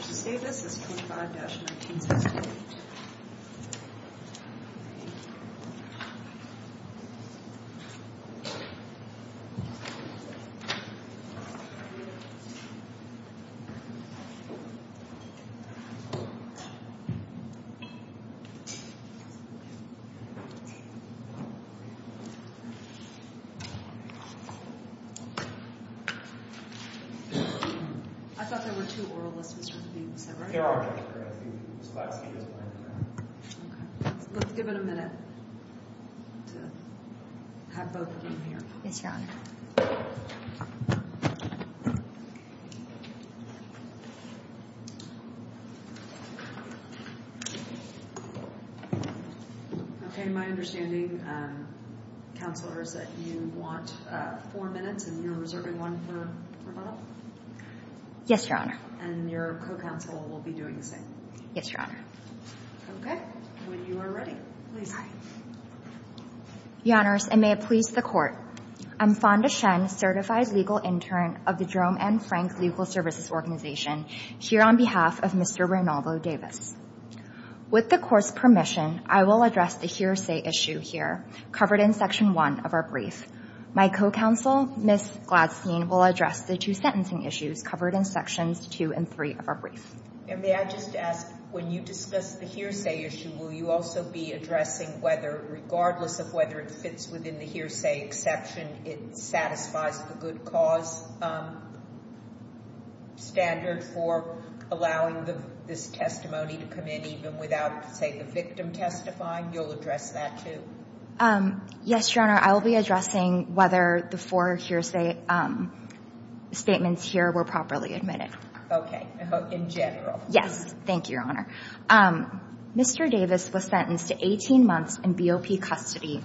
is 25-1964. I thought there were two oralists, was that right? Yes, Your Honor. My understanding, Counselor, is that you want four minutes and you're reserving one for rebuttal? Yes, Your Honor. And your co-counsel will be doing the same? Yes, Your Honor. Okay. When you are ready, please. Your Honors, and may it please the Court. I'm Fonda Shen, Certified Legal Intern of the Jerome and Frank Legal Services Organization, here on behalf of Mr. Reynaldo Davis. With the Court's permission, I will address the hearsay issue here, covered in Section 1 of our brief. My co-counsel, Ms. Gladstein, will address the two sentencing issues covered in Sections 2 and 3 of our brief. And may I just ask, when you discuss the hearsay issue, will you also be addressing whether, regardless of whether it fits within the hearsay exception, it satisfies the good cause standard for allowing this testimony to come in, even without, say, the victim testifying? You'll address that, too? Yes, Your Honor. I will be addressing whether the four hearsay statements here were properly admitted. Okay. In general. Yes. Thank you, Your Honor. Mr. Davis was sentenced to 18 months in BOP custody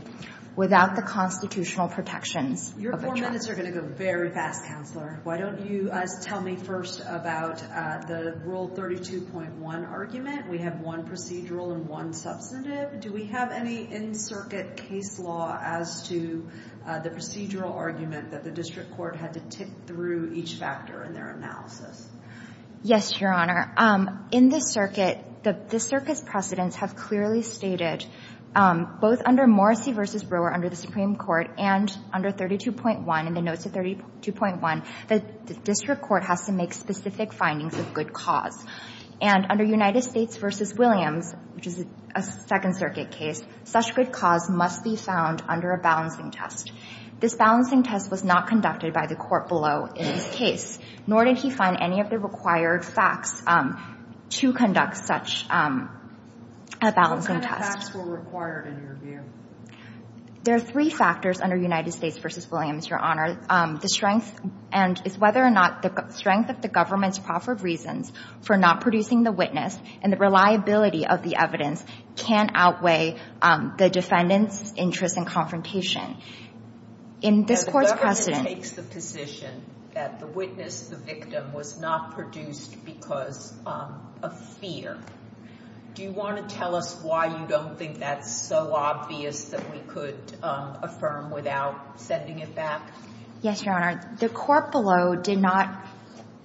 without the constitutional protections of a trial. Your four minutes are going to go very fast, Counselor. Why don't you tell me first about the Rule 32.1 argument? We have one procedural and one substantive. Do we have any in-circuit case law as to the procedural argument that the District Court had to tick through each factor in their analysis? Yes, Your Honor. In the Circuit, the Circuit's precedents have clearly stated, both under Morrissey v. Brewer under the Supreme Court and under 32.1 in the notes of 32.1, that the District Court has to make specific findings of good cause. And under United States v. Williams, which is a Second Circuit case, such good cause must be found under a balancing test. This balancing test was not conducted by the court below in his case, nor did he find any of the required facts to conduct such a balancing test. What kind of facts were required in your view? There are three factors under United States v. Williams, Your Honor. The strength and the strength of the government's proffered reasons for not producing the witness and the reliability of the evidence can outweigh the defendant's interest in confrontation. In this court's precedent — The government takes the position that the witness, the victim, was not produced because of fear. Do you want to tell us why you don't think that's so obvious that we could affirm without sending it back? Yes, Your Honor. The court below did not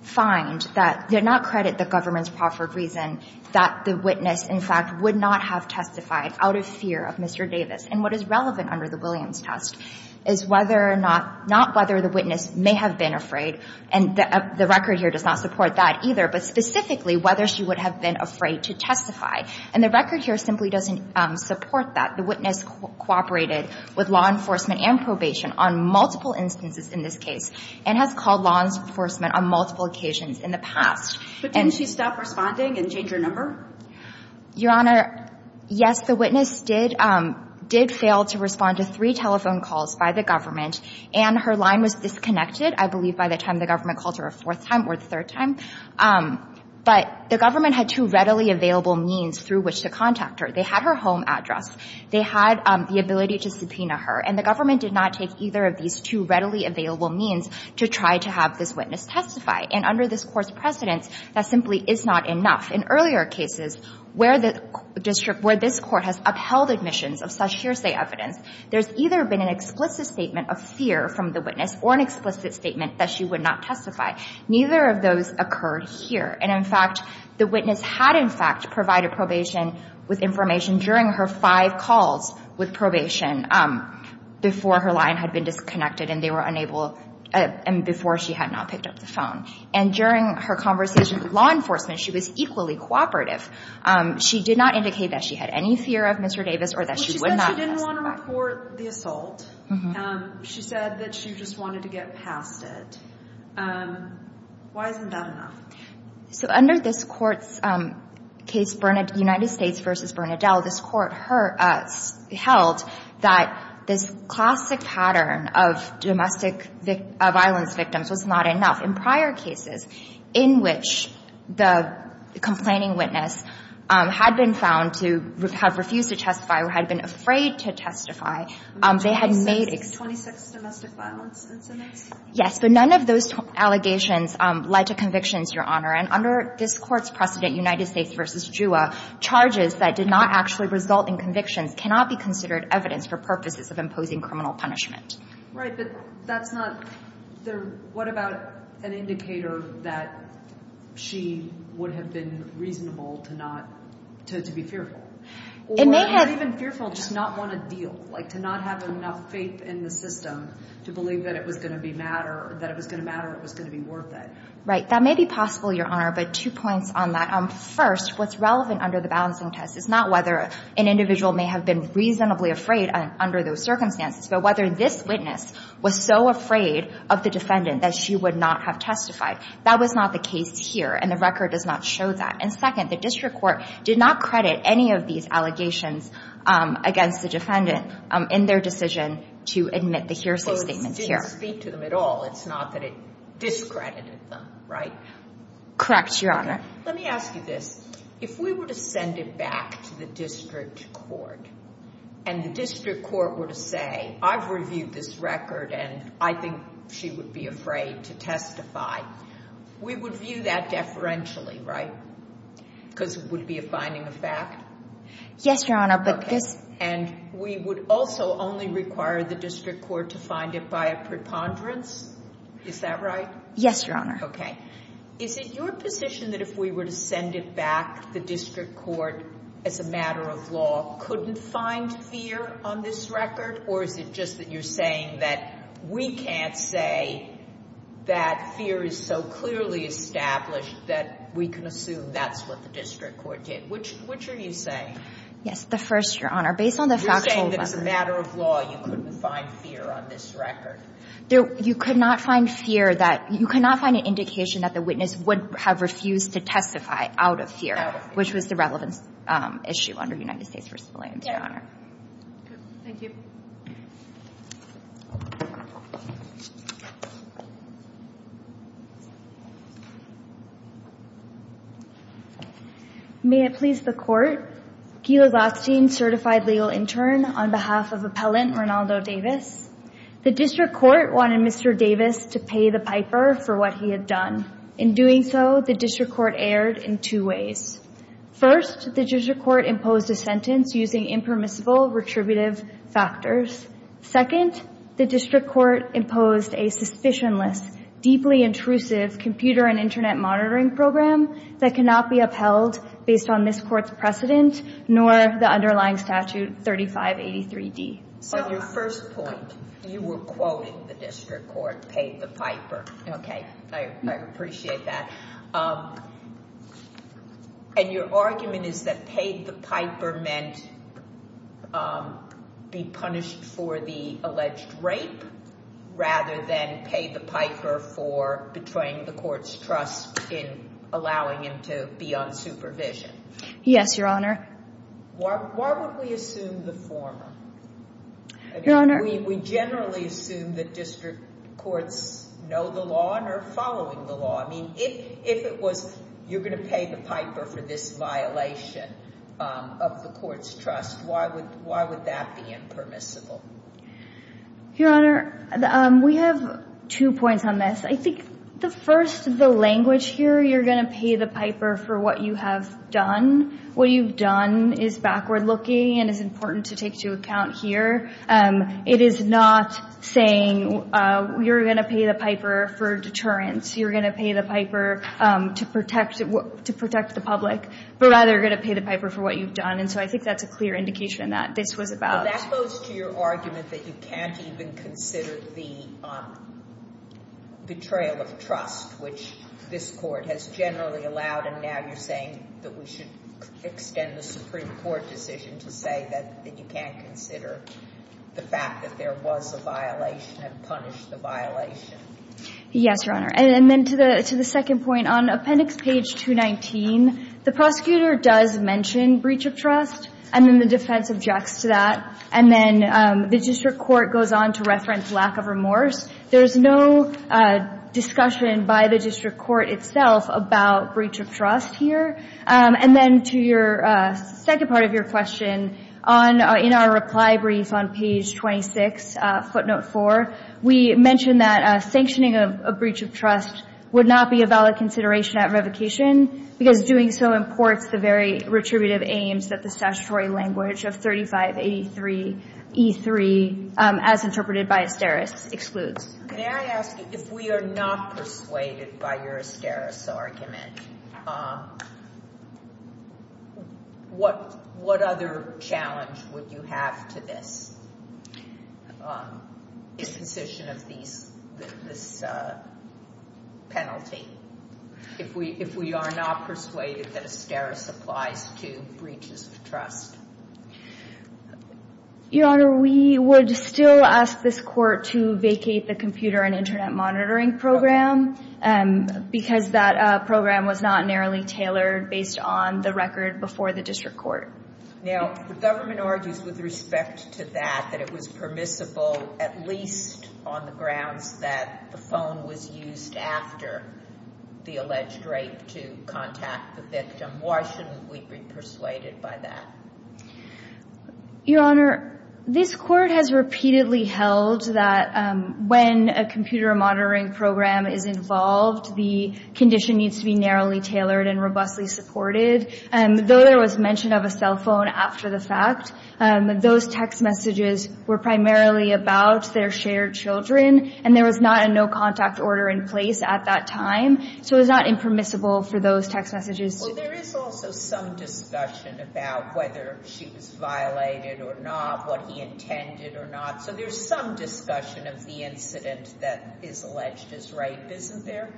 find that — did not credit the government's proffered reason that the witness, in fact, would not have testified out of fear of Mr. Davis and what is relevant under the Williams test is whether or not — not whether the witness may have been afraid, and the record here does not support that either, but specifically whether she would have been afraid to testify. And the record here simply doesn't support that. The witness cooperated with law enforcement and probation on multiple instances in this case and has called law enforcement on multiple occasions in the past. But didn't she stop responding and change her number? Your Honor, yes, the witness did — did fail to respond to three telephone calls by the government, and her line was disconnected, I believe, by the time the government called her a fourth time or the third time. But the government had two readily available means through which to contact her. They had her home address. They had the ability to subpoena her. And the government did not take either of these two readily available means to try to have this witness testify. And under this Court's precedence, that simply is not enough. In earlier cases where the district — where this Court has upheld admissions of such hearsay evidence, there's either been an explicit statement of fear from the witness or an explicit statement that she would not testify. Neither of those occurred here. And, in fact, the witness had, in fact, provided probation with information during her five calls with probation before her line had been disconnected and they were unable — and before she had not picked up the phone. And during her conversation with law enforcement, she was equally cooperative. She did not indicate that she had any fear of Mr. Davis or that she would not testify. Well, she said she didn't want to report the assault. She said that she just wanted to get past it. Why isn't that enough? So under this Court's case, United States v. Bernadelle, this Court held that this classic pattern of domestic violence victims was not enough. In prior cases in which the complaining witness had been found to have refused to testify or had been afraid to testify, they had made — 26 domestic violence incidents? Yes. But none of those allegations led to convictions, Your Honor. And under this Court's precedent, United States v. JUA, charges that did not actually result in convictions cannot be considered evidence for purposes of imposing criminal punishment. Right. But that's not — what about an indicator that she would have been reasonable to not — to be fearful? It may have — Or even fearful just not want to deal, like to not have enough faith in the system to believe that it was going to be matter — that it was going to matter, it was going to be worth it. Right. That may be possible, Your Honor, but two points on that. First, what's relevant under the balancing test is not whether an individual may have been reasonably afraid under those circumstances, but whether this witness was so afraid of the defendant that she would not have testified. That was not the case here, and the record does not show that. And second, the district court did not credit any of these allegations against the defendant in their decision to admit the hearsay statement here. Well, it didn't speak to them at all. It's not that it discredited them, right? Correct, Your Honor. Let me ask you this. If we were to send it back to the district court and the district court were to say, I've reviewed this record and I think she would be afraid to testify, we would view that deferentially, right? Because it would be a finding of fact? Yes, Your Honor, but this — Okay. And we would also only require the district court to find it by a preponderance? Is that right? Yes, Your Honor. Okay. Is it your position that if we were to send it back, the district court, as a matter of law, couldn't find fear on this record? Or is it just that you're saying that we can't say that fear is so clearly established that we can assume that's what the district court did? Which are you saying? Yes, the first, Your Honor. Based on the factual level. You're saying that as a matter of law, you couldn't find fear on this record? You could not find fear that — you could not find an indication that the witness would have refused to testify out of fear. Out of fear. Which was the relevance issue under United States v. Williams, Your Honor. Good. Thank you. May it please the Court. Gila Gostin, Certified Legal Intern, on behalf of Appellant Rinaldo Davis. The district court wanted Mr. Davis to pay the piper for what he had done. In doing so, the district court erred in two ways. First, the district court imposed a sentence using impermissible retributive factors. Second, the district court imposed a suspicionless, deeply intrusive computer and internet monitoring program that cannot be upheld based on this court's precedent nor the underlying statute 3583D. On your first point, you were quoting the district court paying the piper. Okay. I appreciate that. And your argument is that paid the piper meant be punished for the alleged rape rather than pay the piper for betraying the court's trust in allowing him to be on supervision. Yes, Your Honor. Why would we assume the former? Your Honor. We generally assume that district courts know the law and are following the law. I mean, if it was you're going to pay the piper for this violation of the court's trust, why would that be impermissible? Your Honor, we have two points on this. I think the first, the language here, you're going to pay the piper for what you have done. What you've done is backward-looking and is important to take into account here. It is not saying you're going to pay the piper for deterrence. You're going to pay the piper to protect the public, but rather you're going to pay the piper for what you've done. And so I think that's a clear indication that this was about— Well, that goes to your argument that you can't even consider the betrayal of trust, which this court has generally allowed, and now you're saying that we should extend the Supreme Court decision to say that you can't consider the fact that there was a violation and punish the violation. Yes, Your Honor. And then to the second point, on Appendix Page 219, the prosecutor does mention breach of trust, and then the defense objects to that, and then the district court goes on to reference lack of remorse. There's no discussion by the district court itself about breach of trust here. And then to your second part of your question, in our reply brief on Page 26, footnote 4, we mention that sanctioning a breach of trust would not be a valid consideration at revocation because doing so imports the very retributive aims that the statutory language of 3583e3, as interpreted by Asteris, excludes. May I ask you, if we are not persuaded by your Asteris argument, what other challenge would you have to this position of this penalty if we are not persuaded that Asteris applies to breaches of trust? Your Honor, we would still ask this court to vacate the computer and Internet monitoring program because that program was not narrowly tailored based on the record before the district court. Now, the government argues with respect to that that it was permissible, at least on the grounds that the phone was used after the alleged rape to contact the victim. Why shouldn't we be persuaded by that? Your Honor, this court has repeatedly held that when a computer monitoring program is involved, the condition needs to be narrowly tailored and robustly supported. Though there was mention of a cell phone after the fact, those text messages were primarily about their shared children, and there was not a no-contact order in place at that time. So it was not impermissible for those text messages to be used. There is also some discussion about whether she was violated or not, what he intended or not. So there's some discussion of the incident that is alleged as rape, isn't there?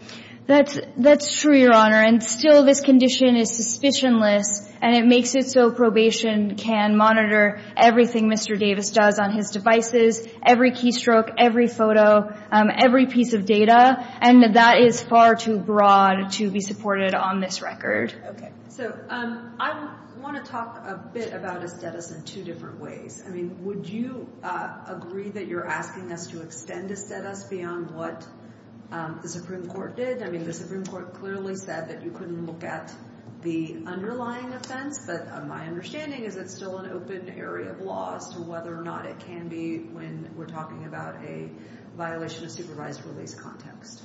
That's true, Your Honor, and still this condition is suspicionless, and it makes it so probation can monitor everything Mr. Davis does on his devices, every keystroke, every photo, every piece of data, and that is far too broad to be supported on this record. Okay. So I want to talk a bit about estetis in two different ways. I mean, would you agree that you're asking us to extend estetis beyond what the Supreme Court did? I mean, the Supreme Court clearly said that you couldn't look at the underlying offense, but my understanding is it's still an open area of law as to whether or not it can be about a violation of supervised release context.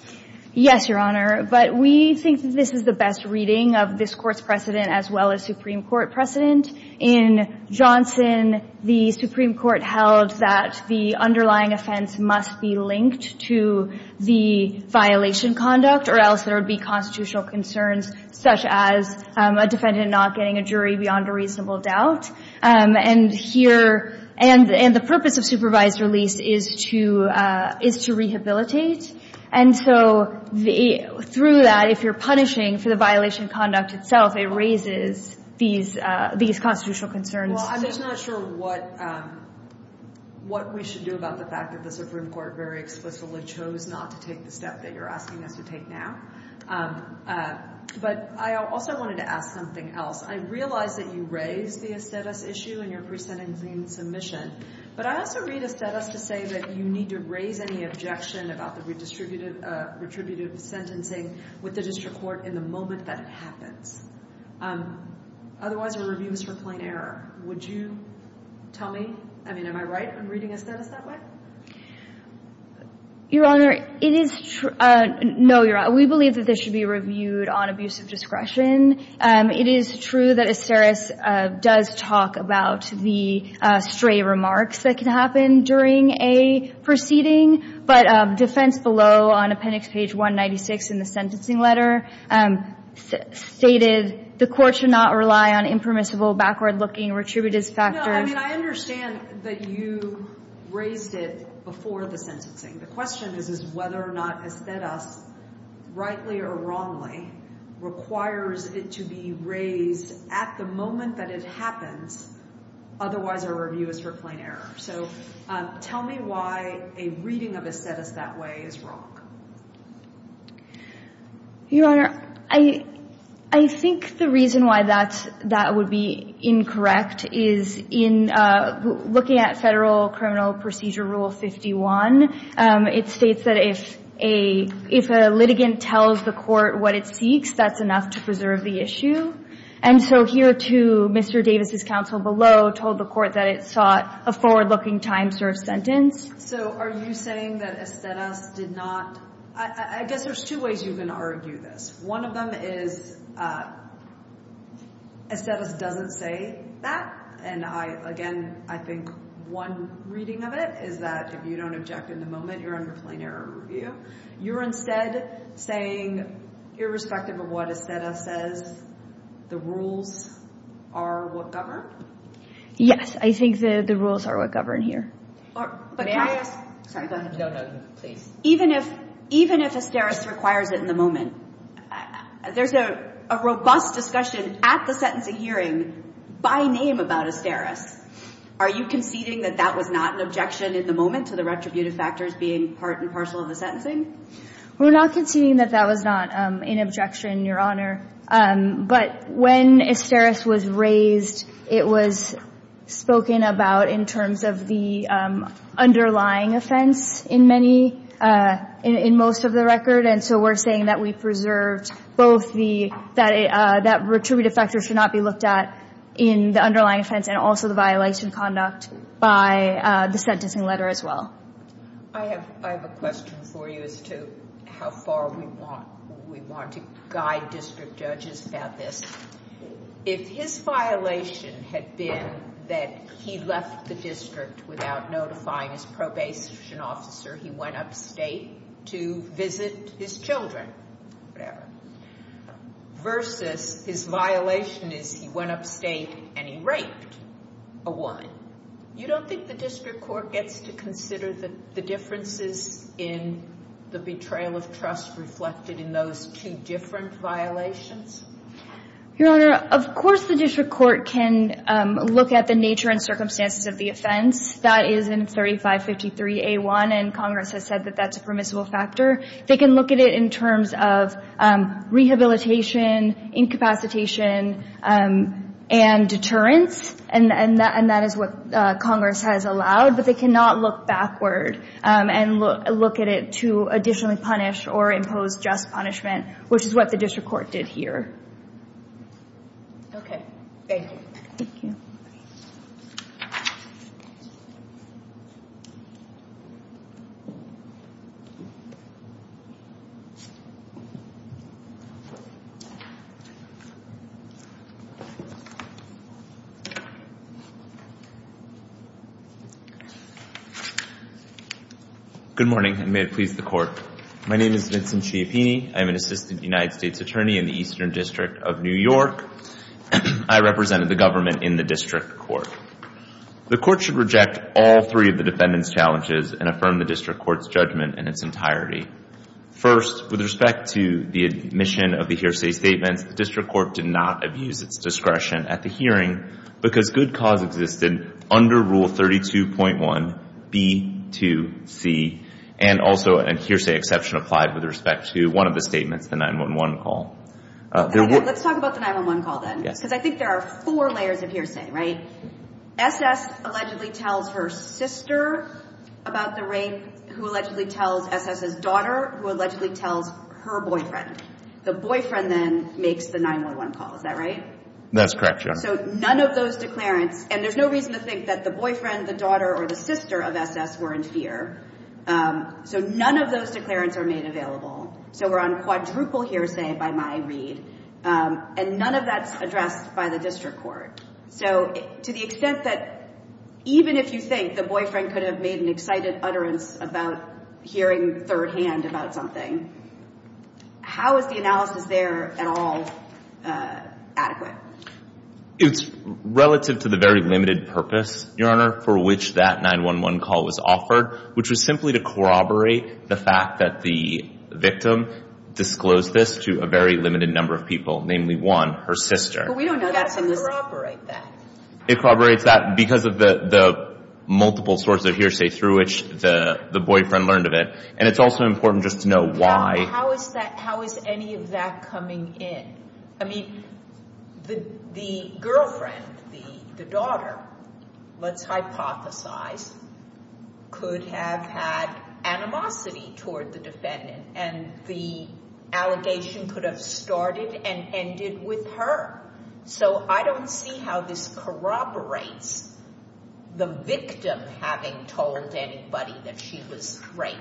Yes, Your Honor, but we think that this is the best reading of this Court's precedent as well as Supreme Court precedent. In Johnson, the Supreme Court held that the underlying offense must be linked to the violation conduct or else there would be constitutional concerns, such as a defendant not getting a jury beyond a reasonable doubt. And the purpose of supervised release is to rehabilitate. And so through that, if you're punishing for the violation of conduct itself, it raises these constitutional concerns. Well, I'm just not sure what we should do about the fact that the Supreme Court very explicitly chose not to take the step that you're asking us to take now. But I also wanted to ask something else. I realize that you raised the aesthetics issue in your precedent and claim submission, but I also read aesthetics to say that you need to raise any objection about the retributive sentencing with the district court in the moment that it happens. Otherwise, the review is for plain error. Would you tell me? I mean, am I right in reading aesthetics that way? Your Honor, it is true. No, Your Honor, we believe that this should be reviewed on abuse of discretion. It is true that Asteris does talk about the stray remarks that can happen during a proceeding. But defense below on appendix page 196 in the sentencing letter stated, the court should not rely on impermissible, backward-looking retributive factors. No, I mean, I understand that you raised it before the sentencing. The question is whether or not Asteris, rightly or wrongly, requires it to be raised at the moment that it happens. Otherwise, our review is for plain error. So tell me why a reading of Asteris that way is wrong. Your Honor, I think the reason why that would be incorrect is in looking at Federal Criminal Procedure Rule 51, it states that if a litigant tells the court what it seeks, that's enough to preserve the issue. And so here, too, Mr. Davis' counsel below told the court that it sought a forward-looking time-served sentence. So are you saying that Asteris did not? I guess there's two ways you can argue this. One of them is Asteris doesn't say that. And, again, I think one reading of it is that if you don't object in the moment, you're under plain error review. You're instead saying, irrespective of what Asteris says, the rules are what govern? Yes, I think the rules are what govern here. May I ask? Sorry, go ahead. No, no, please. Even if Asteris requires it in the moment, there's a robust discussion at the sentencing hearing by name about Asteris. Are you conceding that that was not an objection in the moment to the retributive factors being part and parcel of the sentencing? We're not conceding that that was not an objection, Your Honor. But when Asteris was raised, it was spoken about in terms of the underlying offense in most of the record. And so we're saying that we preserved both that retributive factors should not be looked at in the underlying offense and also the violation conduct by the sentencing letter as well. I have a question for you as to how far we want to guide district judges about this. If his violation had been that he left the district without notifying his probation officer, he went upstate to visit his children, whatever, versus his violation is he went upstate and he raped a woman, you don't think the district court gets to consider the differences in the betrayal of trust as reflected in those two different violations? Your Honor, of course the district court can look at the nature and circumstances of the offense. That is in 3553A1, and Congress has said that that's a permissible factor. They can look at it in terms of rehabilitation, incapacitation, and deterrence, and that is what Congress has allowed. But they cannot look backward and look at it to additionally punish or impose just punishment, which is what the district court did here. Okay. Thank you. Thank you. Good morning, and may it please the Court. My name is Vincent Ciappini. I am an assistant United States attorney in the Eastern District of New York. I represented the government in the district court. The court should reject all three of the defendant's challenges and affirm the district court's judgment in its entirety. First, with respect to the admission of the hearsay statements, the district court did not abuse its discretion at the hearing because good cause existed under Rule 32.1B2C, and also a hearsay exception applied with respect to one of the statements, the 911 call. Okay. Let's talk about the 911 call then. Yes. Because I think there are four layers of hearsay, right? S.S. allegedly tells her sister about the rape, who allegedly tells S.S.'s daughter, who allegedly tells her boyfriend. The boyfriend then makes the 911 call. Is that right? That's correct, Your Honor. So none of those declarants, and there's no reason to think that the boyfriend, the daughter, or the sister of S.S. were in fear. So none of those declarants are made available. So we're on quadruple hearsay by my read, and none of that's addressed by the district court. So to the extent that even if you think the boyfriend could have made an excited utterance about hearing thirdhand about something, how is the analysis there at all adequate? It's relative to the very limited purpose, Your Honor, for which that 911 call was offered, which was simply to corroborate the fact that the victim disclosed this to a very limited number of people, namely one, her sister. But we don't know that's in the statute. How do you corroborate that? It corroborates that because of the multiple sources of hearsay through which the boyfriend learned of it. And it's also important just to know why. How is any of that coming in? I mean, the girlfriend, the daughter, let's hypothesize, could have had animosity toward the defendant, and the allegation could have started and ended with her. So I don't see how this corroborates the victim having told anybody that she was raped.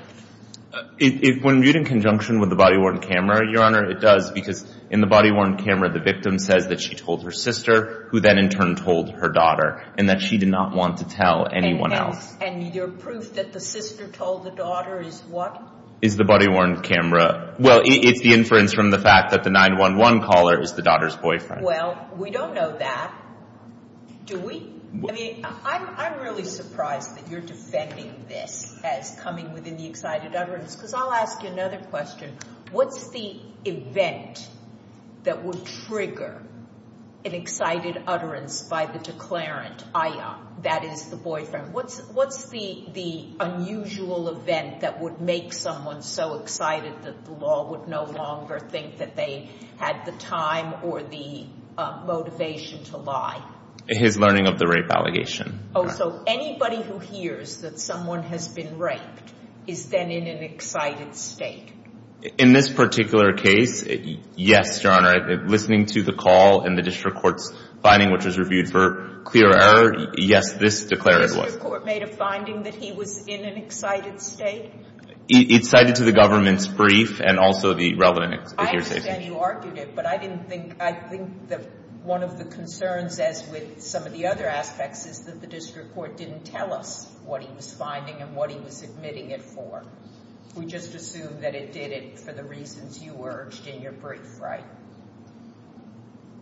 When viewed in conjunction with the body-worn camera, Your Honor, it does because in the body-worn camera the victim says that she told her sister, who then in turn told her daughter, and that she did not want to tell anyone else. And your proof that the sister told the daughter is what? Is the body-worn camera. Well, it's the inference from the fact that the 911 caller is the daughter's boyfriend. Well, we don't know that, do we? I mean, I'm really surprised that you're defending this as coming within the excited utterance because I'll ask you another question. What's the event that would trigger an excited utterance by the declarant, aya, that is the boyfriend? What's the unusual event that would make someone so excited that the law would no longer think that they had the time or the motivation to lie? His learning of the rape allegation. So anybody who hears that someone has been raped is then in an excited state. In this particular case, yes, Your Honor. Listening to the call and the district court's finding, which was reviewed for clear error, yes, this declarant was. The district court made a finding that he was in an excited state? It cited to the government's brief and also the relevant explicit hearsay. I understand you argued it, but I think that one of the concerns, as with some of the other aspects, is that the district court didn't tell us what he was finding and what he was admitting it for. We just assume that it did it for the reasons you urged in your brief, right?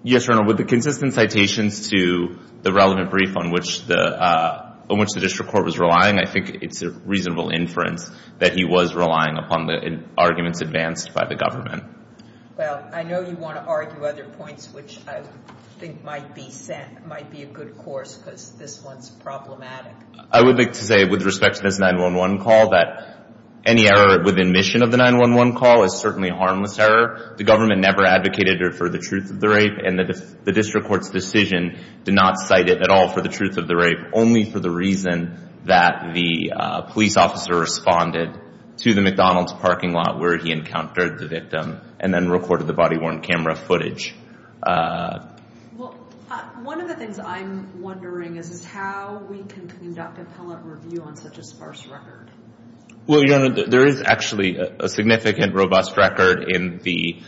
Yes, Your Honor. With the consistent citations to the relevant brief on which the district court was relying, I think it's a reasonable inference that he was relying upon the arguments advanced by the government. Well, I know you want to argue other points, which I think might be a good course because this one's problematic. I would like to say, with respect to this 911 call, that any error with admission of the 911 call is certainly a harmless error. The government never advocated for the truth of the rape, and the district court's decision did not cite it at all for the truth of the rape, only for the reason that the police officer responded to the McDonald's parking lot where he encountered the victim and then recorded the body-worn camera footage. Well, one of the things I'm wondering is how we can conduct appellate review on such a sparse record. Well, Your Honor, there is actually a significant, robust record in the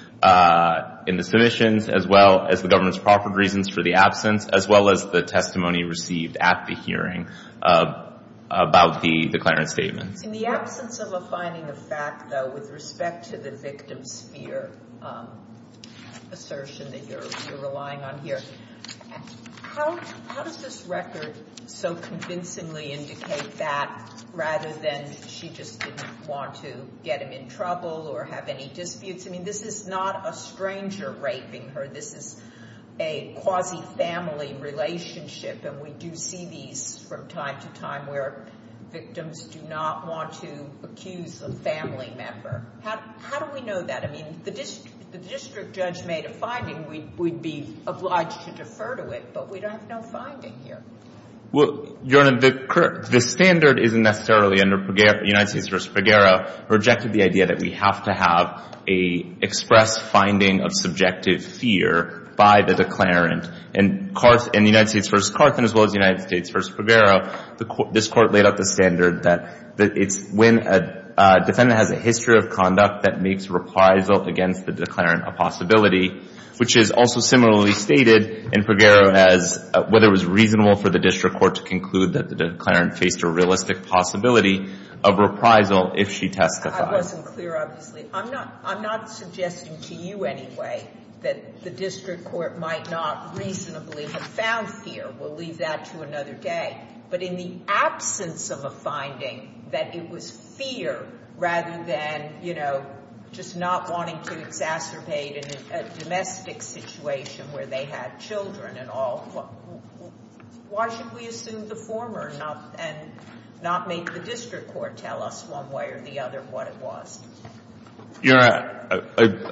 submissions, as well as the government's proper reasons for the absence, as well as the testimony received at the hearing about the declarant statement. In the absence of a finding of fact, though, with respect to the victim's fear assertion that you're relying on here, how does this record so convincingly indicate that, rather than she just didn't want to get him in trouble or have any disputes? I mean, this is not a stranger raping her. This is a quasi-family relationship, and we do see these from time to time where victims do not want to accuse a family member. How do we know that? I mean, the district judge made a finding. We'd be obliged to defer to it, but we don't have no finding here. Well, Your Honor, the standard isn't necessarily under United States v. Figueroa who rejected the idea that we have to have an express finding of subjective fear by the declarant. In the United States v. Carthan as well as the United States v. Figueroa, this Court laid out the standard that it's when a defendant has a history of conduct that makes reprisal against the declarant a possibility, which is also similarly stated in Figueroa as whether it was reasonable for the district court to conclude that the declarant faced a realistic possibility of reprisal if she testified. I wasn't clear, obviously. I'm not suggesting to you anyway that the district court might not reasonably have found fear. We'll leave that to another day. But in the absence of a finding that it was fear rather than, you know, just not wanting to exacerbate a domestic situation where they had children and all, why should we assume the former and not make the district court tell us one way or the other what it was? Your Honor,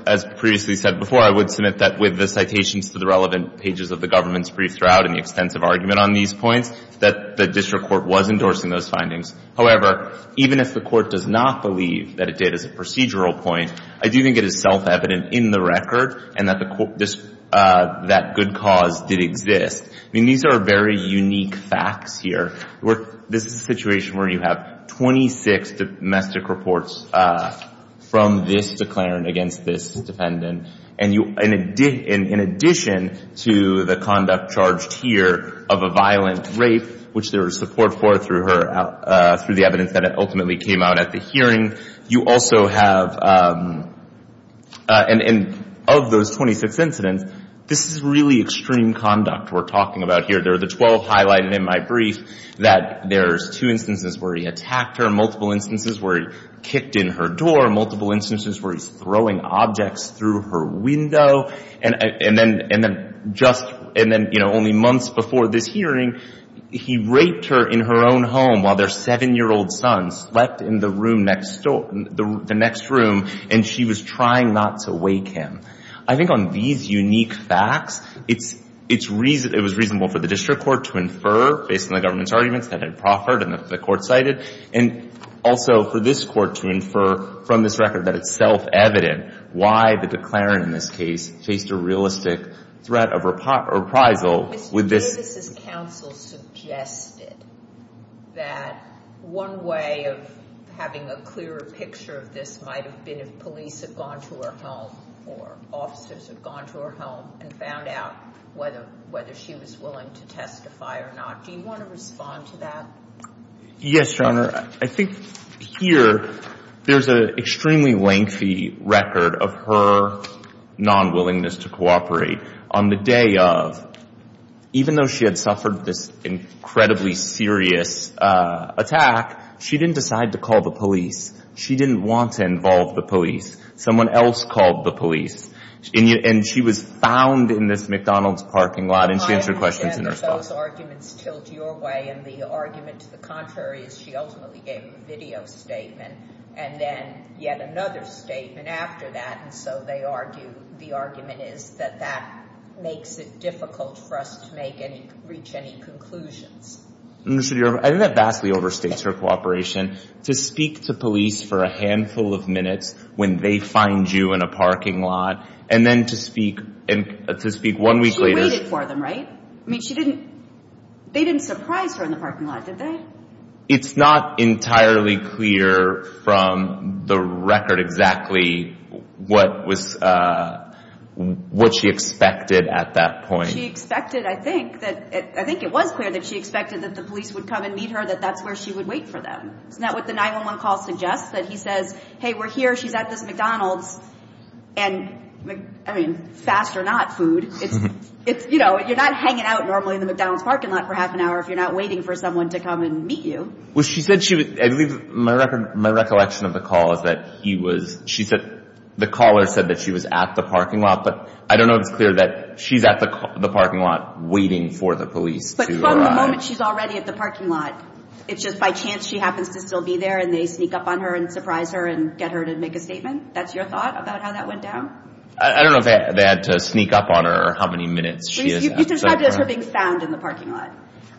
as previously said before, I would submit that with the citations to the relevant pages of the government's brief throughout and the extensive argument on these points, that the district court was endorsing those findings. However, even if the court does not believe that it did as a procedural point, I do think it is self-evident in the record and that good cause did exist. I mean, these are very unique facts here. This is a situation where you have 26 domestic reports from this declarant against this defendant, and in addition to the conduct charged here of a violent rape, which there was support for through the evidence that ultimately came out at the hearing, you also have, and of those 26 incidents, this is really extreme conduct we're talking about here. There are the 12 highlighted in my brief that there's two instances where he attacked her, multiple instances where he kicked in her door, multiple instances where he's throwing objects through her window, and then just, and then, you know, only months before this hearing, he raped her in her own home while their 7-year-old son slept in the room next door, the next room, and she was trying not to wake him. I think on these unique facts, it's reasonable for the district court to infer, based on the government's arguments that had proffered and the court cited, and also for this Court to infer from this record that it's self-evident why the declarant in this case faced a realistic threat of reprisal with this. Justice's counsel suggested that one way of having a clearer picture of this might have been if police had gone to her home or officers had gone to her home and found out whether she was willing to testify or not. Do you want to respond to that? Yes, Your Honor. I think here there's an extremely lengthy record of her non-willingness to cooperate. On the day of, even though she had suffered this incredibly serious attack, she didn't decide to call the police. She didn't want to involve the police. Someone else called the police, and she was found in this McDonald's parking lot, and she answered questions in response. I understand that those arguments tilt your way, and the argument to the contrary is she ultimately gave a video statement, and then yet another statement after that, and so the argument is that that makes it difficult for us to reach any conclusions. I think that vastly overstates her cooperation to speak to police for a handful of minutes when they find you in a parking lot, and then to speak one week later. She waited for them, right? They didn't surprise her in the parking lot, did they? It's not entirely clear from the record exactly what she expected at that point. She expected, I think it was clear that she expected that the police would come and meet her, that that's where she would wait for them. Isn't that what the 911 call suggests? That he says, hey, we're here, she's at this McDonald's, and, I mean, fast or not food, you're not hanging out normally in the McDonald's parking lot for half an hour if you're not waiting for someone to come and meet you. Well, she said she was, I believe my recollection of the call is that he was, she said the caller said that she was at the parking lot, but I don't know if it's clear that she's at the parking lot waiting for the police to arrive. But from the moment she's already at the parking lot, it's just by chance she happens to still be there, and they sneak up on her and surprise her and get her to make a statement. That's your thought about how that went down? I don't know if they had to sneak up on her or how many minutes she is at the parking lot. You described it as her being found in the parking lot.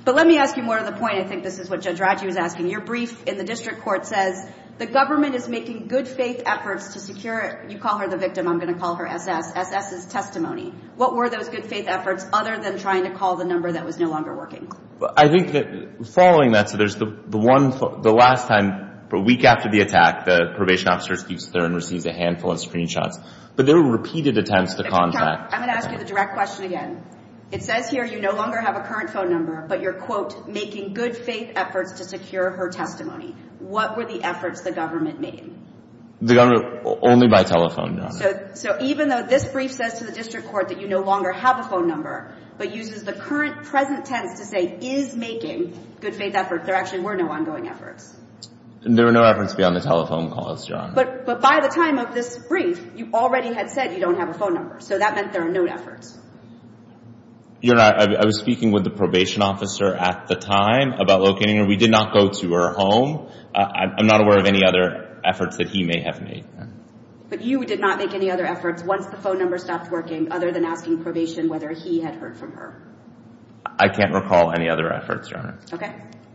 But let me ask you more to the point. I think this is what Judge Raju is asking. Your brief in the district court says the government is making good-faith efforts to secure, you call her the victim, I'm going to call her SS, SS' testimony. What were those good-faith efforts other than trying to call the number that was no longer working? I think that following that, so there's the one, the last time, a week after the attack, the probation officer, Steve Stern, receives a handful of screenshots. But there were repeated attempts to contact. I'm going to ask you the direct question again. It says here you no longer have a current phone number, but you're, quote, making good-faith efforts to secure her testimony. What were the efforts the government made? The government, only by telephone, Your Honor. So even though this brief says to the district court that you no longer have a phone number, but uses the current present tense to say is making good-faith efforts, there actually were no ongoing efforts. There were no efforts beyond the telephone calls, Your Honor. But by the time of this brief, you already had said you don't have a phone number. So that meant there are no efforts. Your Honor, I was speaking with the probation officer at the time about locating her. We did not go to her home. I'm not aware of any other efforts that he may have made. But you did not make any other efforts once the phone number stopped working other than asking probation whether he had heard from her? I can't recall any other efforts, Your Honor. Okay.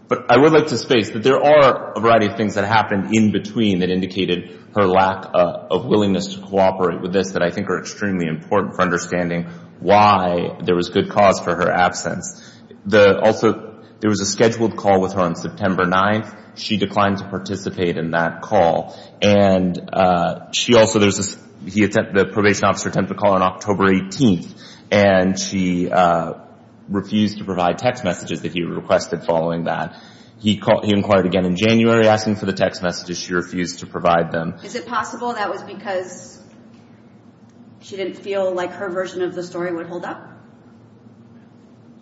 But I would like to space that there are a variety of things that happened in between that indicated her lack of willingness to cooperate with this that I think are extremely important for understanding why there was good cause for her absence. Also, there was a scheduled call with her on September 9th. She declined to participate in that call. And she also, the probation officer attempted to call her on October 18th, and she refused to provide text messages that he requested following that. He inquired again in January asking for the text messages. She refused to provide them. Is it possible that was because she didn't feel like her version of the story would hold up?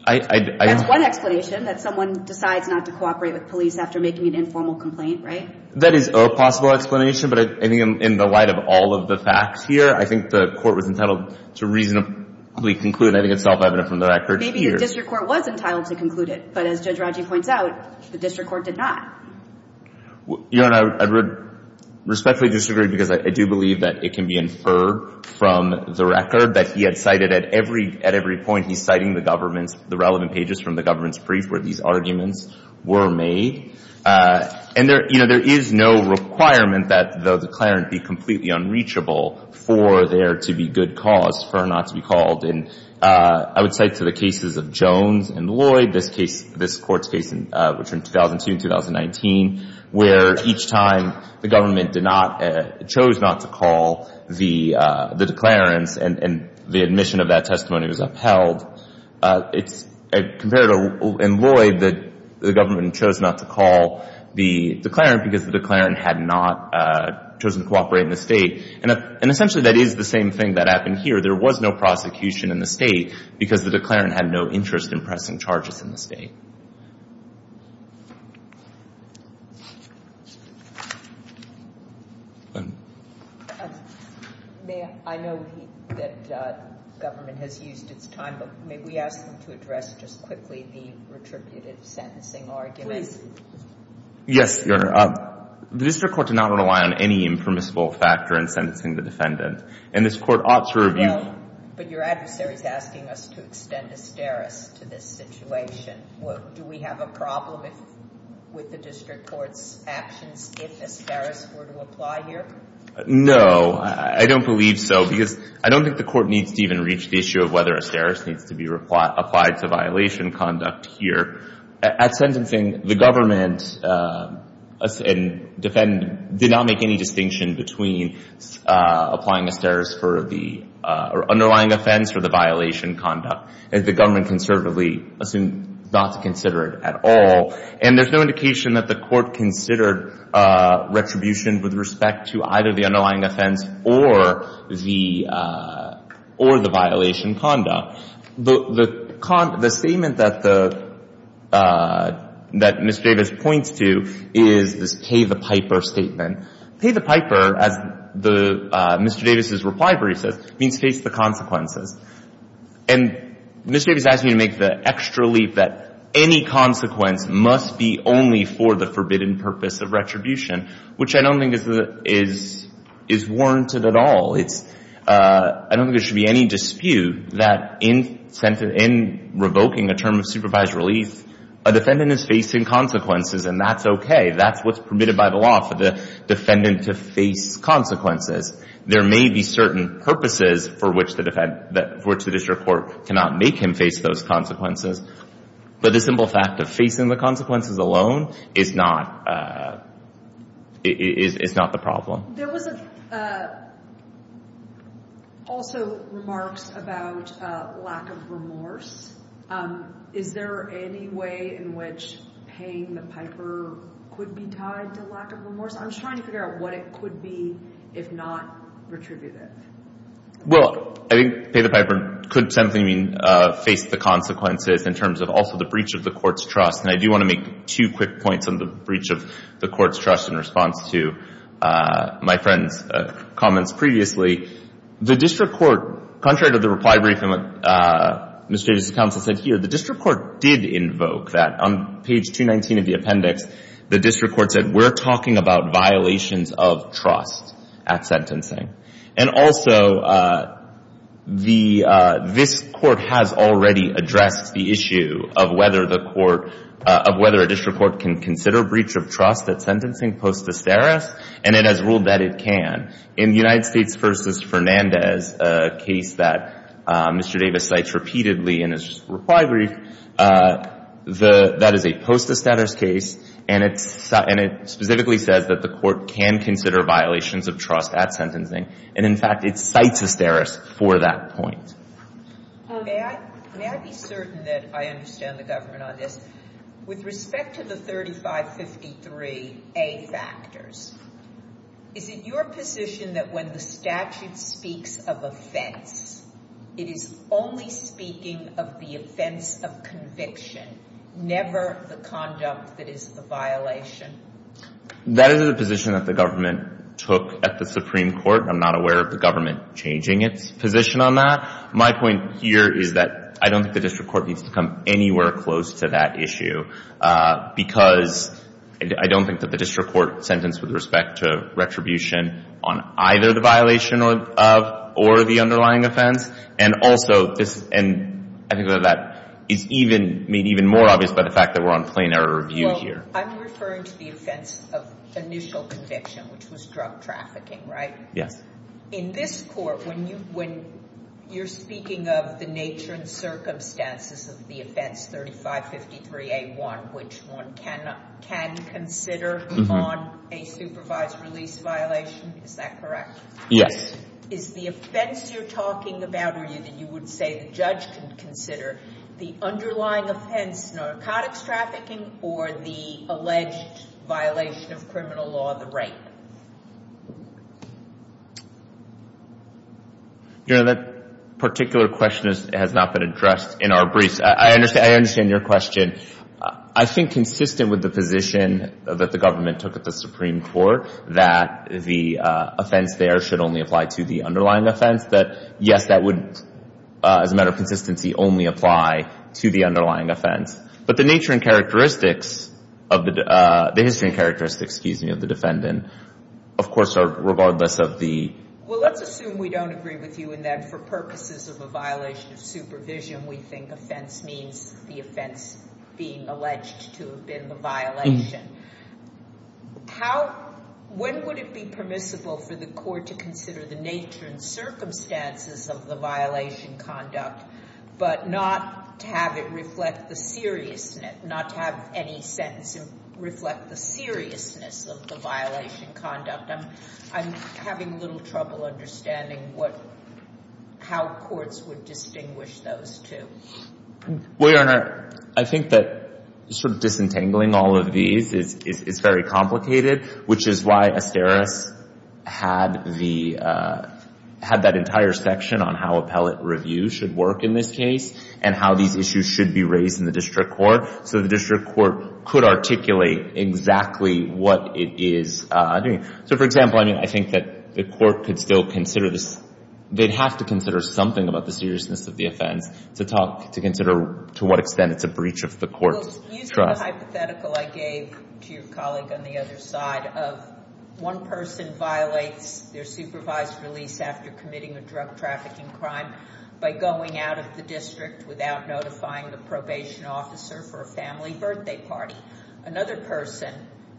That's one explanation, that someone decides not to cooperate with police after making an informal complaint, right? That is a possible explanation, but I think in the light of all of the facts here, I think the court was entitled to reasonably conclude, and I think it's self-evident from the record here. Maybe the district court was entitled to conclude it, but as Judge Radji points out, the district court did not. Your Honor, I respectfully disagree because I do believe that it can be inferred from the record that he had cited at every point. He's citing the government's, the relevant pages from the government's brief where these arguments were made. And there is no requirement that the declarant be completely unreachable for there to be good cause for her not to be called. And I would cite to the cases of Jones and Lloyd, this case, which were in 2002 and 2019, where each time the government chose not to call the declarants and the admission of that testimony was upheld. Compared to Lloyd, the government chose not to call the declarant because the declarant had not chosen to cooperate in the State. And essentially that is the same thing that happened here. There was no prosecution in the State because the declarant had no interest in pressing charges in the State. I know that government has used its time, but may we ask them to address just quickly the retributive sentencing argument? Yes, Your Honor. The district court did not rely on any impermissible factor in sentencing the defendant. And this Court ought to review. I know, but your adversary is asking us to extend a steris to this situation Do we have a problem with the district court's actions if a steris were to apply here? No, I don't believe so. Because I don't think the Court needs to even reach the issue of whether a steris needs to be applied to violation conduct here. At sentencing, the government did not make any distinction between applying a steris for the underlying offense or the violation conduct. The government conservatively assumed not to consider it at all. And there's no indication that the Court considered retribution with respect to either the underlying offense or the violation conduct. The statement that Ms. Davis points to is this pay the piper statement. Pay the piper, as Mr. Davis' reply brief says, means face the consequences. And Ms. Davis asked me to make the extra leap that any consequence must be only for the forbidden purpose of retribution, which I don't think is warranted at all. I don't think there should be any dispute that in revoking a term of supervised release, a defendant is facing consequences, and that's okay. That's what's permitted by the law for the defendant to face consequences. There may be certain purposes for which the district court cannot make him face those consequences, but the simple fact of facing the consequences alone is not the problem. There was also remarks about lack of remorse. Is there any way in which paying the piper could be tied to lack of remorse? I'm just trying to figure out what it could be if not retributive. Well, I think pay the piper could simply mean face the consequences in terms of also the breach of the court's trust. And I do want to make two quick points on the breach of the court's trust in response to my friend's comments previously. The district court, contrary to the reply brief and what Ms. Davis' counsel said here, the district court did invoke that. On page 219 of the appendix, the district court said, we're talking about violations of trust at sentencing. And also, the – this court has already addressed the issue of whether the court – of whether a district court can consider breach of trust at sentencing post desteris, and it has ruled that it can. In the United States v. Fernandez case that Mr. Davis cites repeatedly in his reply brief, the – that is a post desteris case, and it specifically says that the court can consider violations of trust at sentencing. And in fact, it cites desteris for that point. May I be certain that I understand the government on this? With respect to the 3553A factors, is it your position that when the statute speaks of offense, it is only speaking of the offense of conviction, never the conduct that is the violation? That is a position that the government took at the Supreme Court. I'm not aware of the government changing its position on that. My point here is that I don't think the district court needs to come anywhere close to that issue because I don't think that the district court sentence with respect to retribution on either the violation of or the underlying offense, and also this – and I think that that is even – made even more obvious by the fact that we're on plain error review here. Well, I'm referring to the offense of initial conviction, which was drug trafficking, right? Yes. In this court, when you – when you're speaking of the nature and circumstances of the offense 3553A1, which one can consider on a supervised release violation, is that correct? Yes. Is the offense you're talking about or that you would say the judge can consider the underlying offense narcotics trafficking or the alleged violation of criminal law, the rape? You know, that particular question has not been addressed in our briefs. I understand your question. I think consistent with the position that the government took at the Supreme Court that the offense there should only apply to the underlying offense, that yes, that would, as a matter of consistency, only apply to the underlying offense. But the nature and characteristics of the – the history and characteristics, excuse me, of the defendant, of course, are regardless of the – Well, let's assume we don't agree with you in that for purposes of a violation of supervision, we think offense means the offense being alleged to have been the violation. How – when would it be permissible for the court to consider the nature and circumstances of the violation conduct but not to have it reflect the seriousness, not to have any sentence reflect the seriousness of the violation conduct? I'm having a little trouble understanding what – how courts would distinguish those two. Well, Your Honor, I think that sort of disentangling all of these is very complicated, which is why Asterios had the – had that entire section on how appellate review should work in this case and how these issues should be raised in the district court so the district court could articulate exactly what it is doing. So, for example, I mean, I think that the court could still consider this – they'd have to consider something about the seriousness of the offense to talk – to consider to what extent it's a breach of the court's trust. Well, using the hypothetical I gave to your colleague on the other side of one person violates their supervised release after committing a drug trafficking crime by going out of the district without notifying the probation officer for a family birthday party. Another person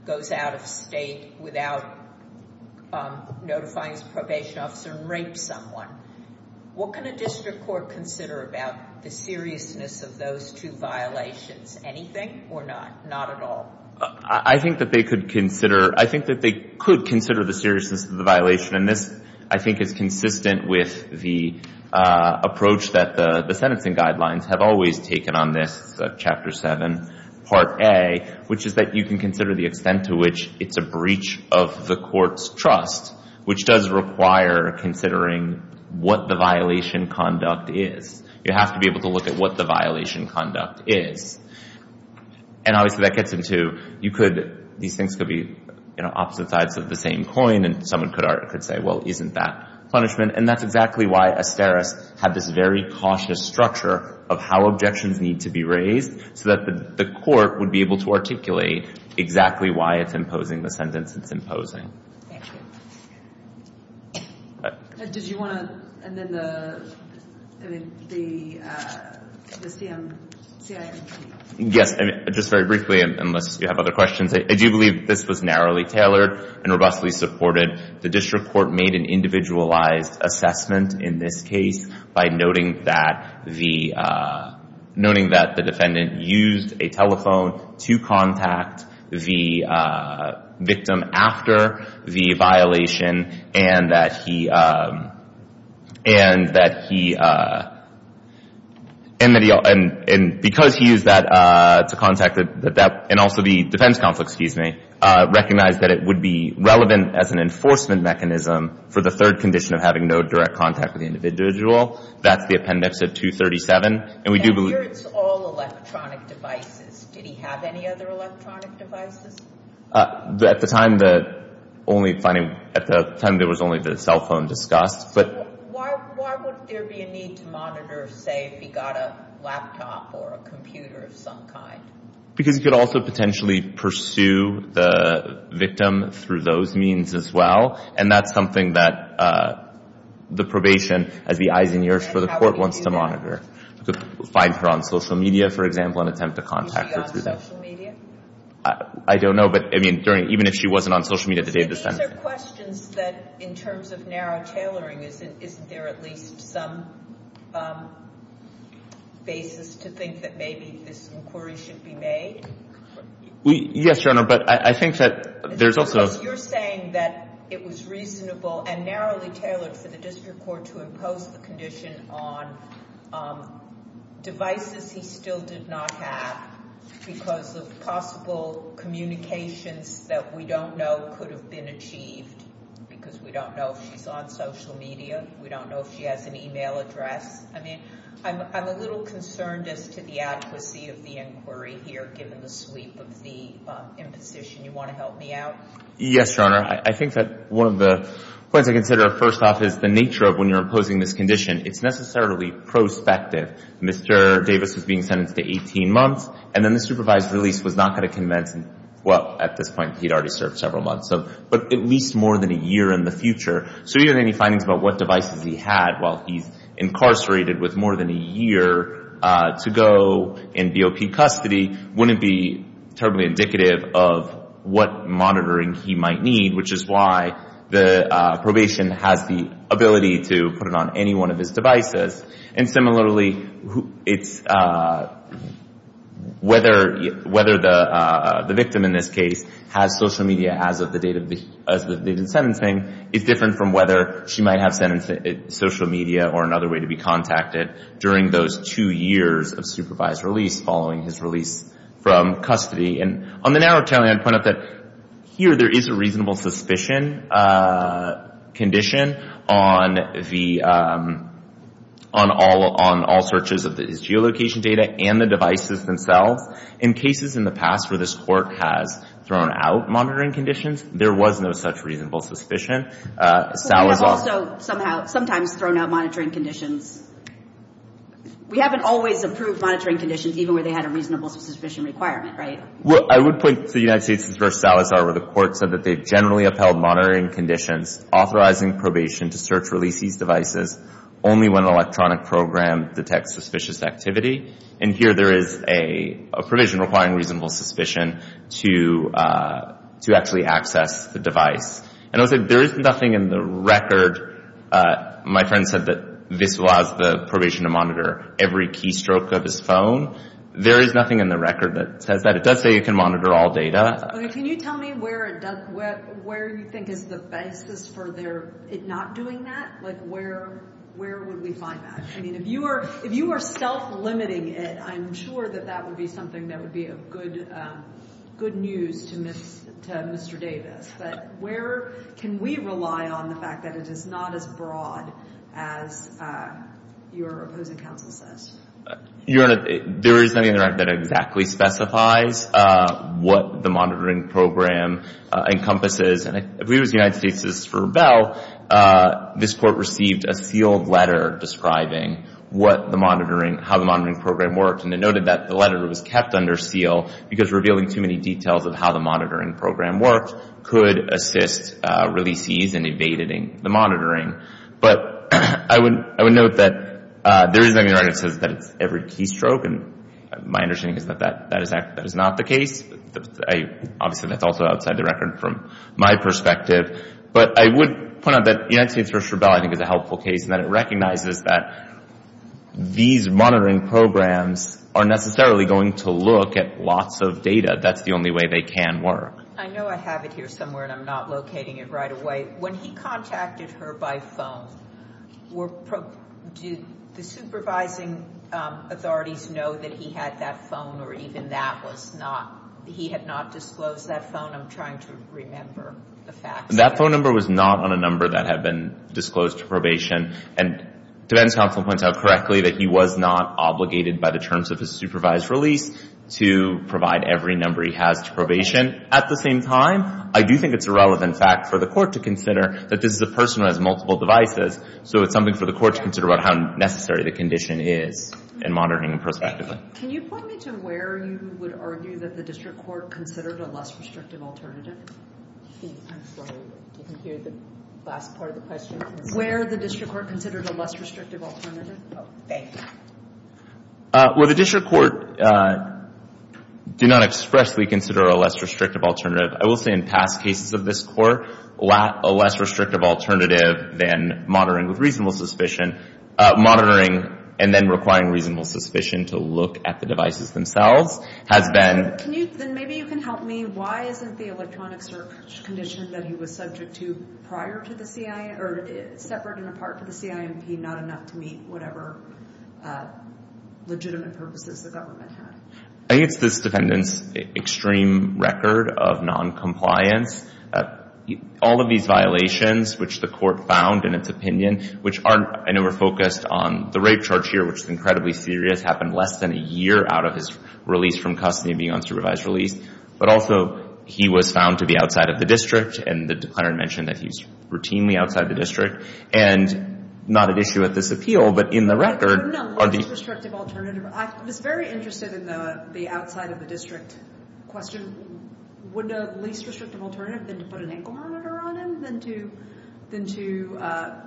goes out of state without notifying his probation officer and rapes someone. What can a district court consider about the seriousness of those two violations, anything or not, not at all? I think that they could consider – I think that they could consider the seriousness And this, I think, is consistent with the approach that the sentencing guidelines have always taken on this, Chapter 7, Part A, which is that you can consider the extent to which it's a breach of the court's trust, which does require considering what the violation conduct is. You have to be able to look at what the violation conduct is. And obviously that gets into you could – these things could be, you know, opposite sides of the same coin and someone could say, well, isn't that punishment? And that's exactly why Asteris had this very cautious structure of how objections need to be raised so that the court would be able to articulate exactly why it's imposing the sentence it's imposing. Thank you. Did you want to – and then the CIMP? Yes, just very briefly, unless you have other questions. I do believe this was narrowly tailored and robustly supported. The district court made an individualized assessment in this case by noting that the – noting that the defendant used a telephone to contact the victim after the violation and that he – and that he – and because he used that to contact the – and also the defense conflict, excuse me, recognized that it would be relevant as an enforcement mechanism for the third condition of having no direct contact with the individual. That's the appendix of 237. And here it's all electronic devices. Did he have any other electronic devices? At the time, the only finding – at the time, there was only the cell phone discussed. Why would there be a need to monitor, say, if he got a laptop or a computer of some kind? Because he could also potentially pursue the victim through those means as well, and that's something that the probation, as the eyes and ears for the court, wants to monitor. Find her on social media, for example, and attempt to contact her through that. On social media? I don't know, but, I mean, during – even if she wasn't on social media at the time. These are questions that, in terms of narrow tailoring, isn't there at least some basis to think that maybe this inquiry should be made? Yes, Your Honor, but I think that there's also – Because you're saying that it was reasonable and narrowly tailored for the district court to impose the condition on devices he still did not have because of possible communications that we don't know could have been achieved because we don't know if she's on social media, we don't know if she has an email address. I mean, I'm a little concerned as to the adequacy of the inquiry here, given the sweep of the imposition. You want to help me out? Yes, Your Honor. I think that one of the points I consider, first off, is the nature of when you're imposing this condition. It's necessarily prospective. Mr. Davis was being sentenced to 18 months, and then the supervised release was not going to convince – well, at this point he'd already served several months, but at least more than a year in the future. So even any findings about what devices he had while he's incarcerated with more than a year to go in BOP custody wouldn't be terribly indicative of what monitoring he might need, which is why the probation has the ability to put it on any one of his devices. And similarly, whether the victim in this case has social media as of the date of the sentencing is different from whether she might have sent social media or another way to be contacted during those two years of supervised release following his release from custody. And on the narrative, I'd point out that here there is a reasonable suspicion condition on all searches of his geolocation data and the devices themselves. In cases in the past where this Court has thrown out monitoring conditions, there was no such reasonable suspicion. But we have also sometimes thrown out monitoring conditions. We haven't always approved monitoring conditions, even where they had a reasonable suspicion requirement, right? Well, I would point to the United States v. Salazar, where the Court said that they've generally upheld monitoring conditions authorizing probation to search release these devices only when an electronic program detects suspicious activity. And here there is a provision requiring reasonable suspicion to actually access the device. And also, there is nothing in the record. My friend said that this was the provision to monitor every keystroke of his phone. There is nothing in the record that says that. It does say you can monitor all data. Can you tell me where you think is the basis for it not doing that? Like, where would we find that? I mean, if you were self-limiting it, I'm sure that that would be something that would be of good news to Mr. Davis. But where can we rely on the fact that it is not as broad as your opposing counsel says? Your Honor, there is nothing in the record that exactly specifies what the monitoring program encompasses. And if we use the United States v. Verbell, this Court received a sealed letter describing how the monitoring program worked. And it noted that the letter was kept under seal because revealing too many details of how the monitoring program worked could assist releasees in evading the monitoring. But I would note that there is nothing in the record that says that it's every keystroke. And my understanding is that that is not the case. Obviously, that's also outside the record from my perspective. But I would point out that the United States v. Verbell, I think, is a helpful case in that it recognizes that these monitoring programs are necessarily going to look at lots of data. That's the only way they can work. I know I have it here somewhere, and I'm not locating it right away. When he contacted her by phone, did the supervising authorities know that he had that phone or even that was not— he had not disclosed that phone? I'm trying to remember the facts. That phone number was not on a number that had been disclosed to probation. And defense counsel points out correctly that he was not obligated by the terms of his supervised release to provide every number he has to probation. At the same time, I do think it's a relevant fact for the court to consider that this is a person who has multiple devices, so it's something for the court to consider about how necessary the condition is in monitoring and prospectively. Can you point me to where you would argue that the district court considered a less restrictive alternative? I'm sorry, you can hear the last part of the question. Where the district court considered a less restrictive alternative? Oh, thanks. Where the district court did not expressly consider a less restrictive alternative, I will say in past cases of this court, a less restrictive alternative than monitoring with reasonable suspicion, monitoring and then requiring reasonable suspicion to look at the devices themselves, has been— Can you—then maybe you can help me. Why isn't the electronic search condition that he was subject to separate and apart from the CIMP not enough to meet whatever legitimate purposes the government had? I think it's this defendant's extreme record of noncompliance. All of these violations, which the court found in its opinion, which aren't—I know we're focused on the rape charge here, which is incredibly serious, happened less than a year out of his release from custody and being on supervised release, but also he was found to be outside of the district and the declarant mentioned that he's routinely outside the district and not an issue at this appeal, but in the record— No, a less restrictive alternative. I was very interested in the outside-of-the-district question. Wouldn't a less restrictive alternative have been to put an ankle monitor on him than to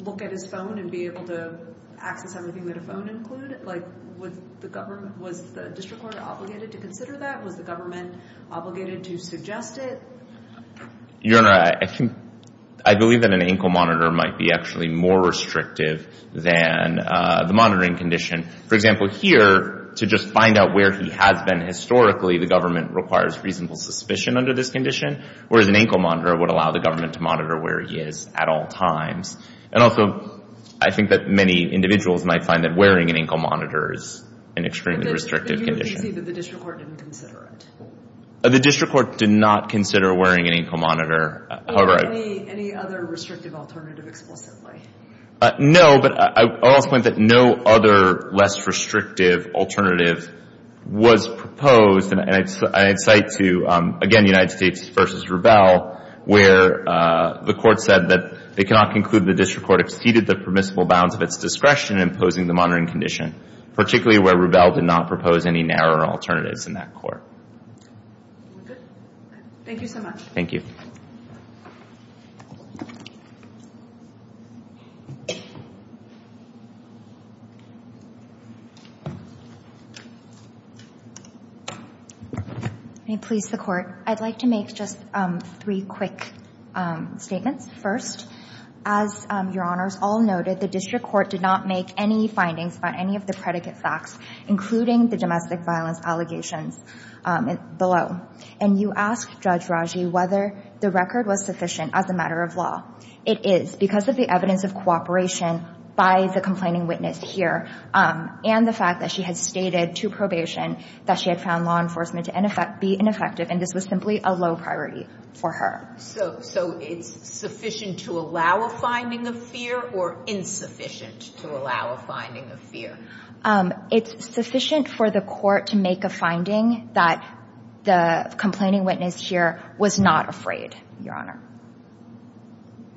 look at his phone and be able to access everything that a phone included? Was the district court obligated to consider that? Was the government obligated to suggest it? Your Honor, I believe that an ankle monitor might be actually more restrictive than the monitoring condition. For example, here, to just find out where he has been historically, the government requires reasonable suspicion under this condition, whereas an ankle monitor would allow the government to monitor where he is at all times. And also, I think that many individuals might find that wearing an ankle monitor is an extremely restrictive condition. But you don't see that the district court didn't consider it? The district court did not consider wearing an ankle monitor, however— Any other restrictive alternative explicitly? No, but I'll also point that no other less restrictive alternative was proposed. And I'd cite to, again, United States v. Rubel, where the court said that they cannot conclude the district court exceeded the permissible bounds of its discretion in imposing the monitoring condition, particularly where Rubel did not propose any narrow alternatives in that court. Thank you so much. Thank you. May it please the Court, I'd like to make just three quick statements. First, as Your Honors all noted, the district court did not make any findings on any of the predicate facts, including the domestic violence allegations below. And you asked Judge Raji whether the record was sufficient as a matter of law. It is, because of the evidence of cooperation by the complaining witness here and the fact that she had stated to probation that she had found law enforcement to be ineffective, and this was simply a low priority for her. So it's sufficient to allow a finding of fear or insufficient to allow a finding of fear? It's sufficient for the court to make a finding that the complaining witness here was not afraid, Your Honor.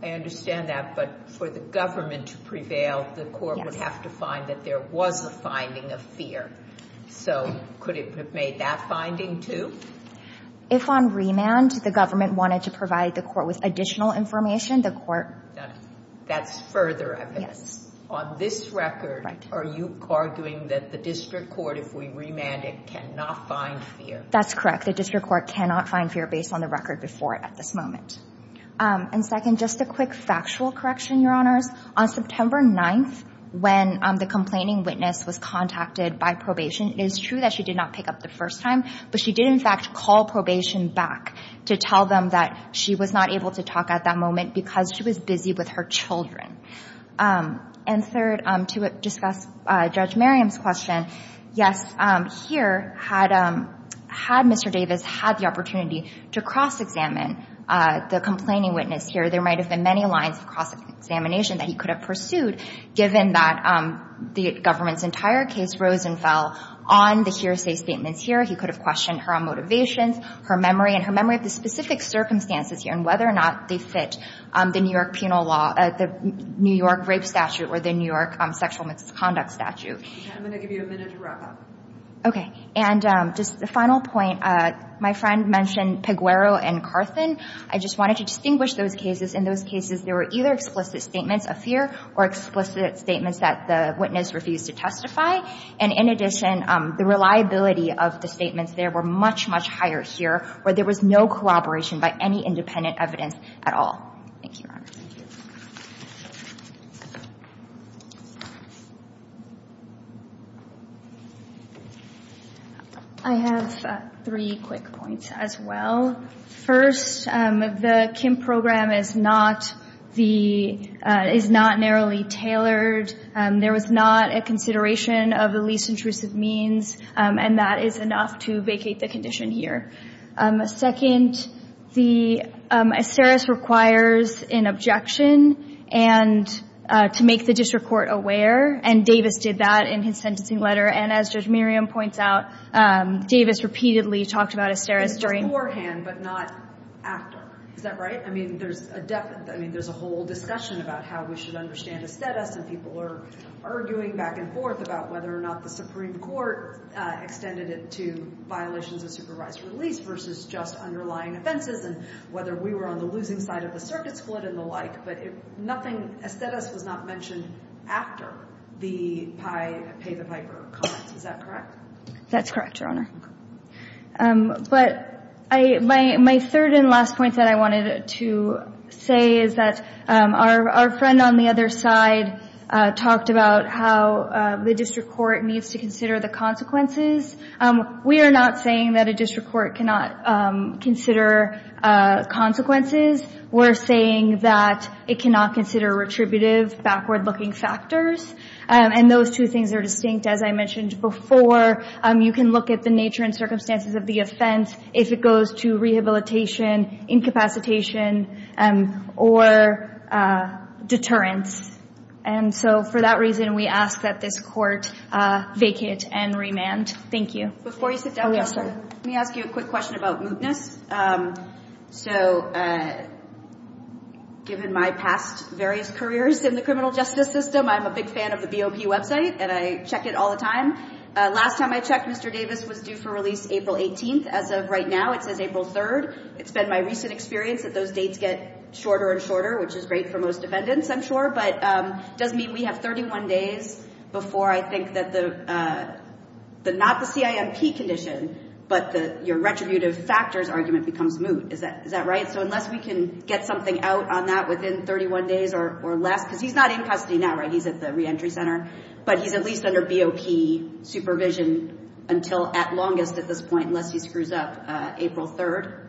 I understand that, but for the government to prevail, the court would have to find that there was a finding of fear. So could it have made that finding, too? If on remand, the government wanted to provide the court with additional information, the court— That's further evidence. On this record, are you arguing that the district court, if we remand it, cannot find fear? That's correct. The district court cannot find fear based on the record before it at this moment. And second, just a quick factual correction, Your Honors. On September 9th, when the complaining witness was contacted by probation, it is true that she did not pick up the first time, but she did in fact call probation back to tell them that she was not able to talk at that moment because she was busy with her children. And third, to discuss Judge Merriam's question, yes, here, had Mr. Davis had the opportunity to cross-examine the complaining witness here, there might have been many lines of cross-examination that he could have pursued, given that the government's entire case rose and fell on the hearsay statements here. He could have questioned her motivations, her memory, and her memory of the specific circumstances here and whether or not they fit the New York penal law, the New York rape statute or the New York sexual misconduct statute. I'm going to give you a minute to wrap up. Okay. And just a final point. My friend mentioned Peguero and Carson. I just wanted to distinguish those cases. In those cases, there were either explicit statements of fear or explicit statements that the witness refused to testify. And in addition, the reliability of the statements there were much, much higher here where there was no collaboration by any independent evidence at all. Thank you, Your Honor. Thank you. I have three quick points as well. First, the Kim program is not narrowly tailored. There was not a consideration of the least intrusive means, and that is enough to vacate the condition here. Second, Asteris requires an objection to make the district court aware, and Davis did that in his sentencing letter. And as Judge Miriam points out, Davis repeatedly talked about Asteris during It was not mentioned beforehand, but not after. Is that right? I mean, there's a whole discussion about how we should understand Asteris, and people are arguing back and forth about whether or not the Supreme Court extended it to violations of supervised release versus just underlying offenses and whether we were on the losing side of the circuit split and the like. But nothing, Asteris was not mentioned after the Piper comments. Is that correct? That's correct, Your Honor. But my third and last point that I wanted to say is that our friend on the other side talked about how the district court needs to consider the consequences. We are not saying that a district court cannot consider consequences. We're saying that it cannot consider retributive, backward-looking factors, and those two things are distinct. As I mentioned before, you can look at the nature and circumstances of the offense if it goes to rehabilitation, incapacitation, or deterrence. And so for that reason, we ask that this court vacate and remand. Thank you. Before you sit down, Counselor, let me ask you a quick question about mootness. So given my past various careers in the criminal justice system, I'm a big fan of the BOP website, and I check it all the time. Last time I checked, Mr. Davis was due for release April 18th. As of right now, it says April 3rd. It's been my recent experience that those dates get shorter and shorter, which is great for most defendants, I'm sure, but it does mean we have 31 days before I think that not the CIMP condition, but your retributive factors argument becomes moot. Is that right? So unless we can get something out on that within 31 days or less, because he's not in custody now, right, he's at the reentry center, but he's at least under BOP supervision until at longest at this point, unless he screws up, April 3rd?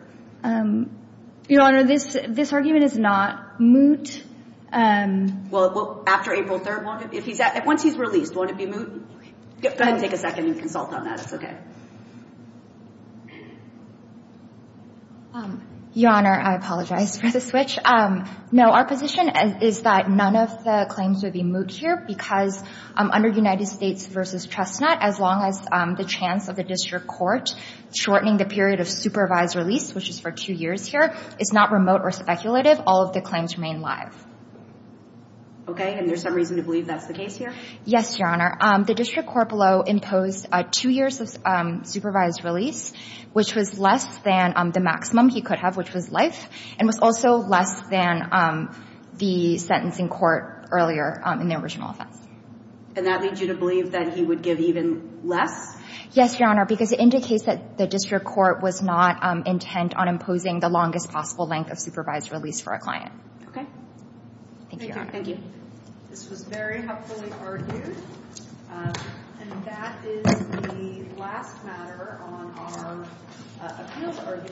Your Honor, this argument is not moot. Well, after April 3rd, once he's released, won't it be moot? Go ahead and take a second and consult on that. It's okay. Your Honor, I apologize for the switch. No, our position is that none of the claims would be moot here because under United States v. Chestnut, as long as the chance of the district court shortening the period of supervised release, which is for two years here, is not remote or speculative. All of the claims remain live. Okay. And there's some reason to believe that's the case here? Yes, Your Honor. The district court below imposed two years of supervised release, which was less than the maximum he could have, which was life, and was also less than the sentencing court earlier in the original offense. And that leads you to believe that he would give even less? Yes, Your Honor, because it indicates that the district court was not intent on imposing the longest possible length of supervised release for a client. Okay. Thank you, Your Honor. Thank you. This was very helpfully argued. And that is the last matter on our appeals argument.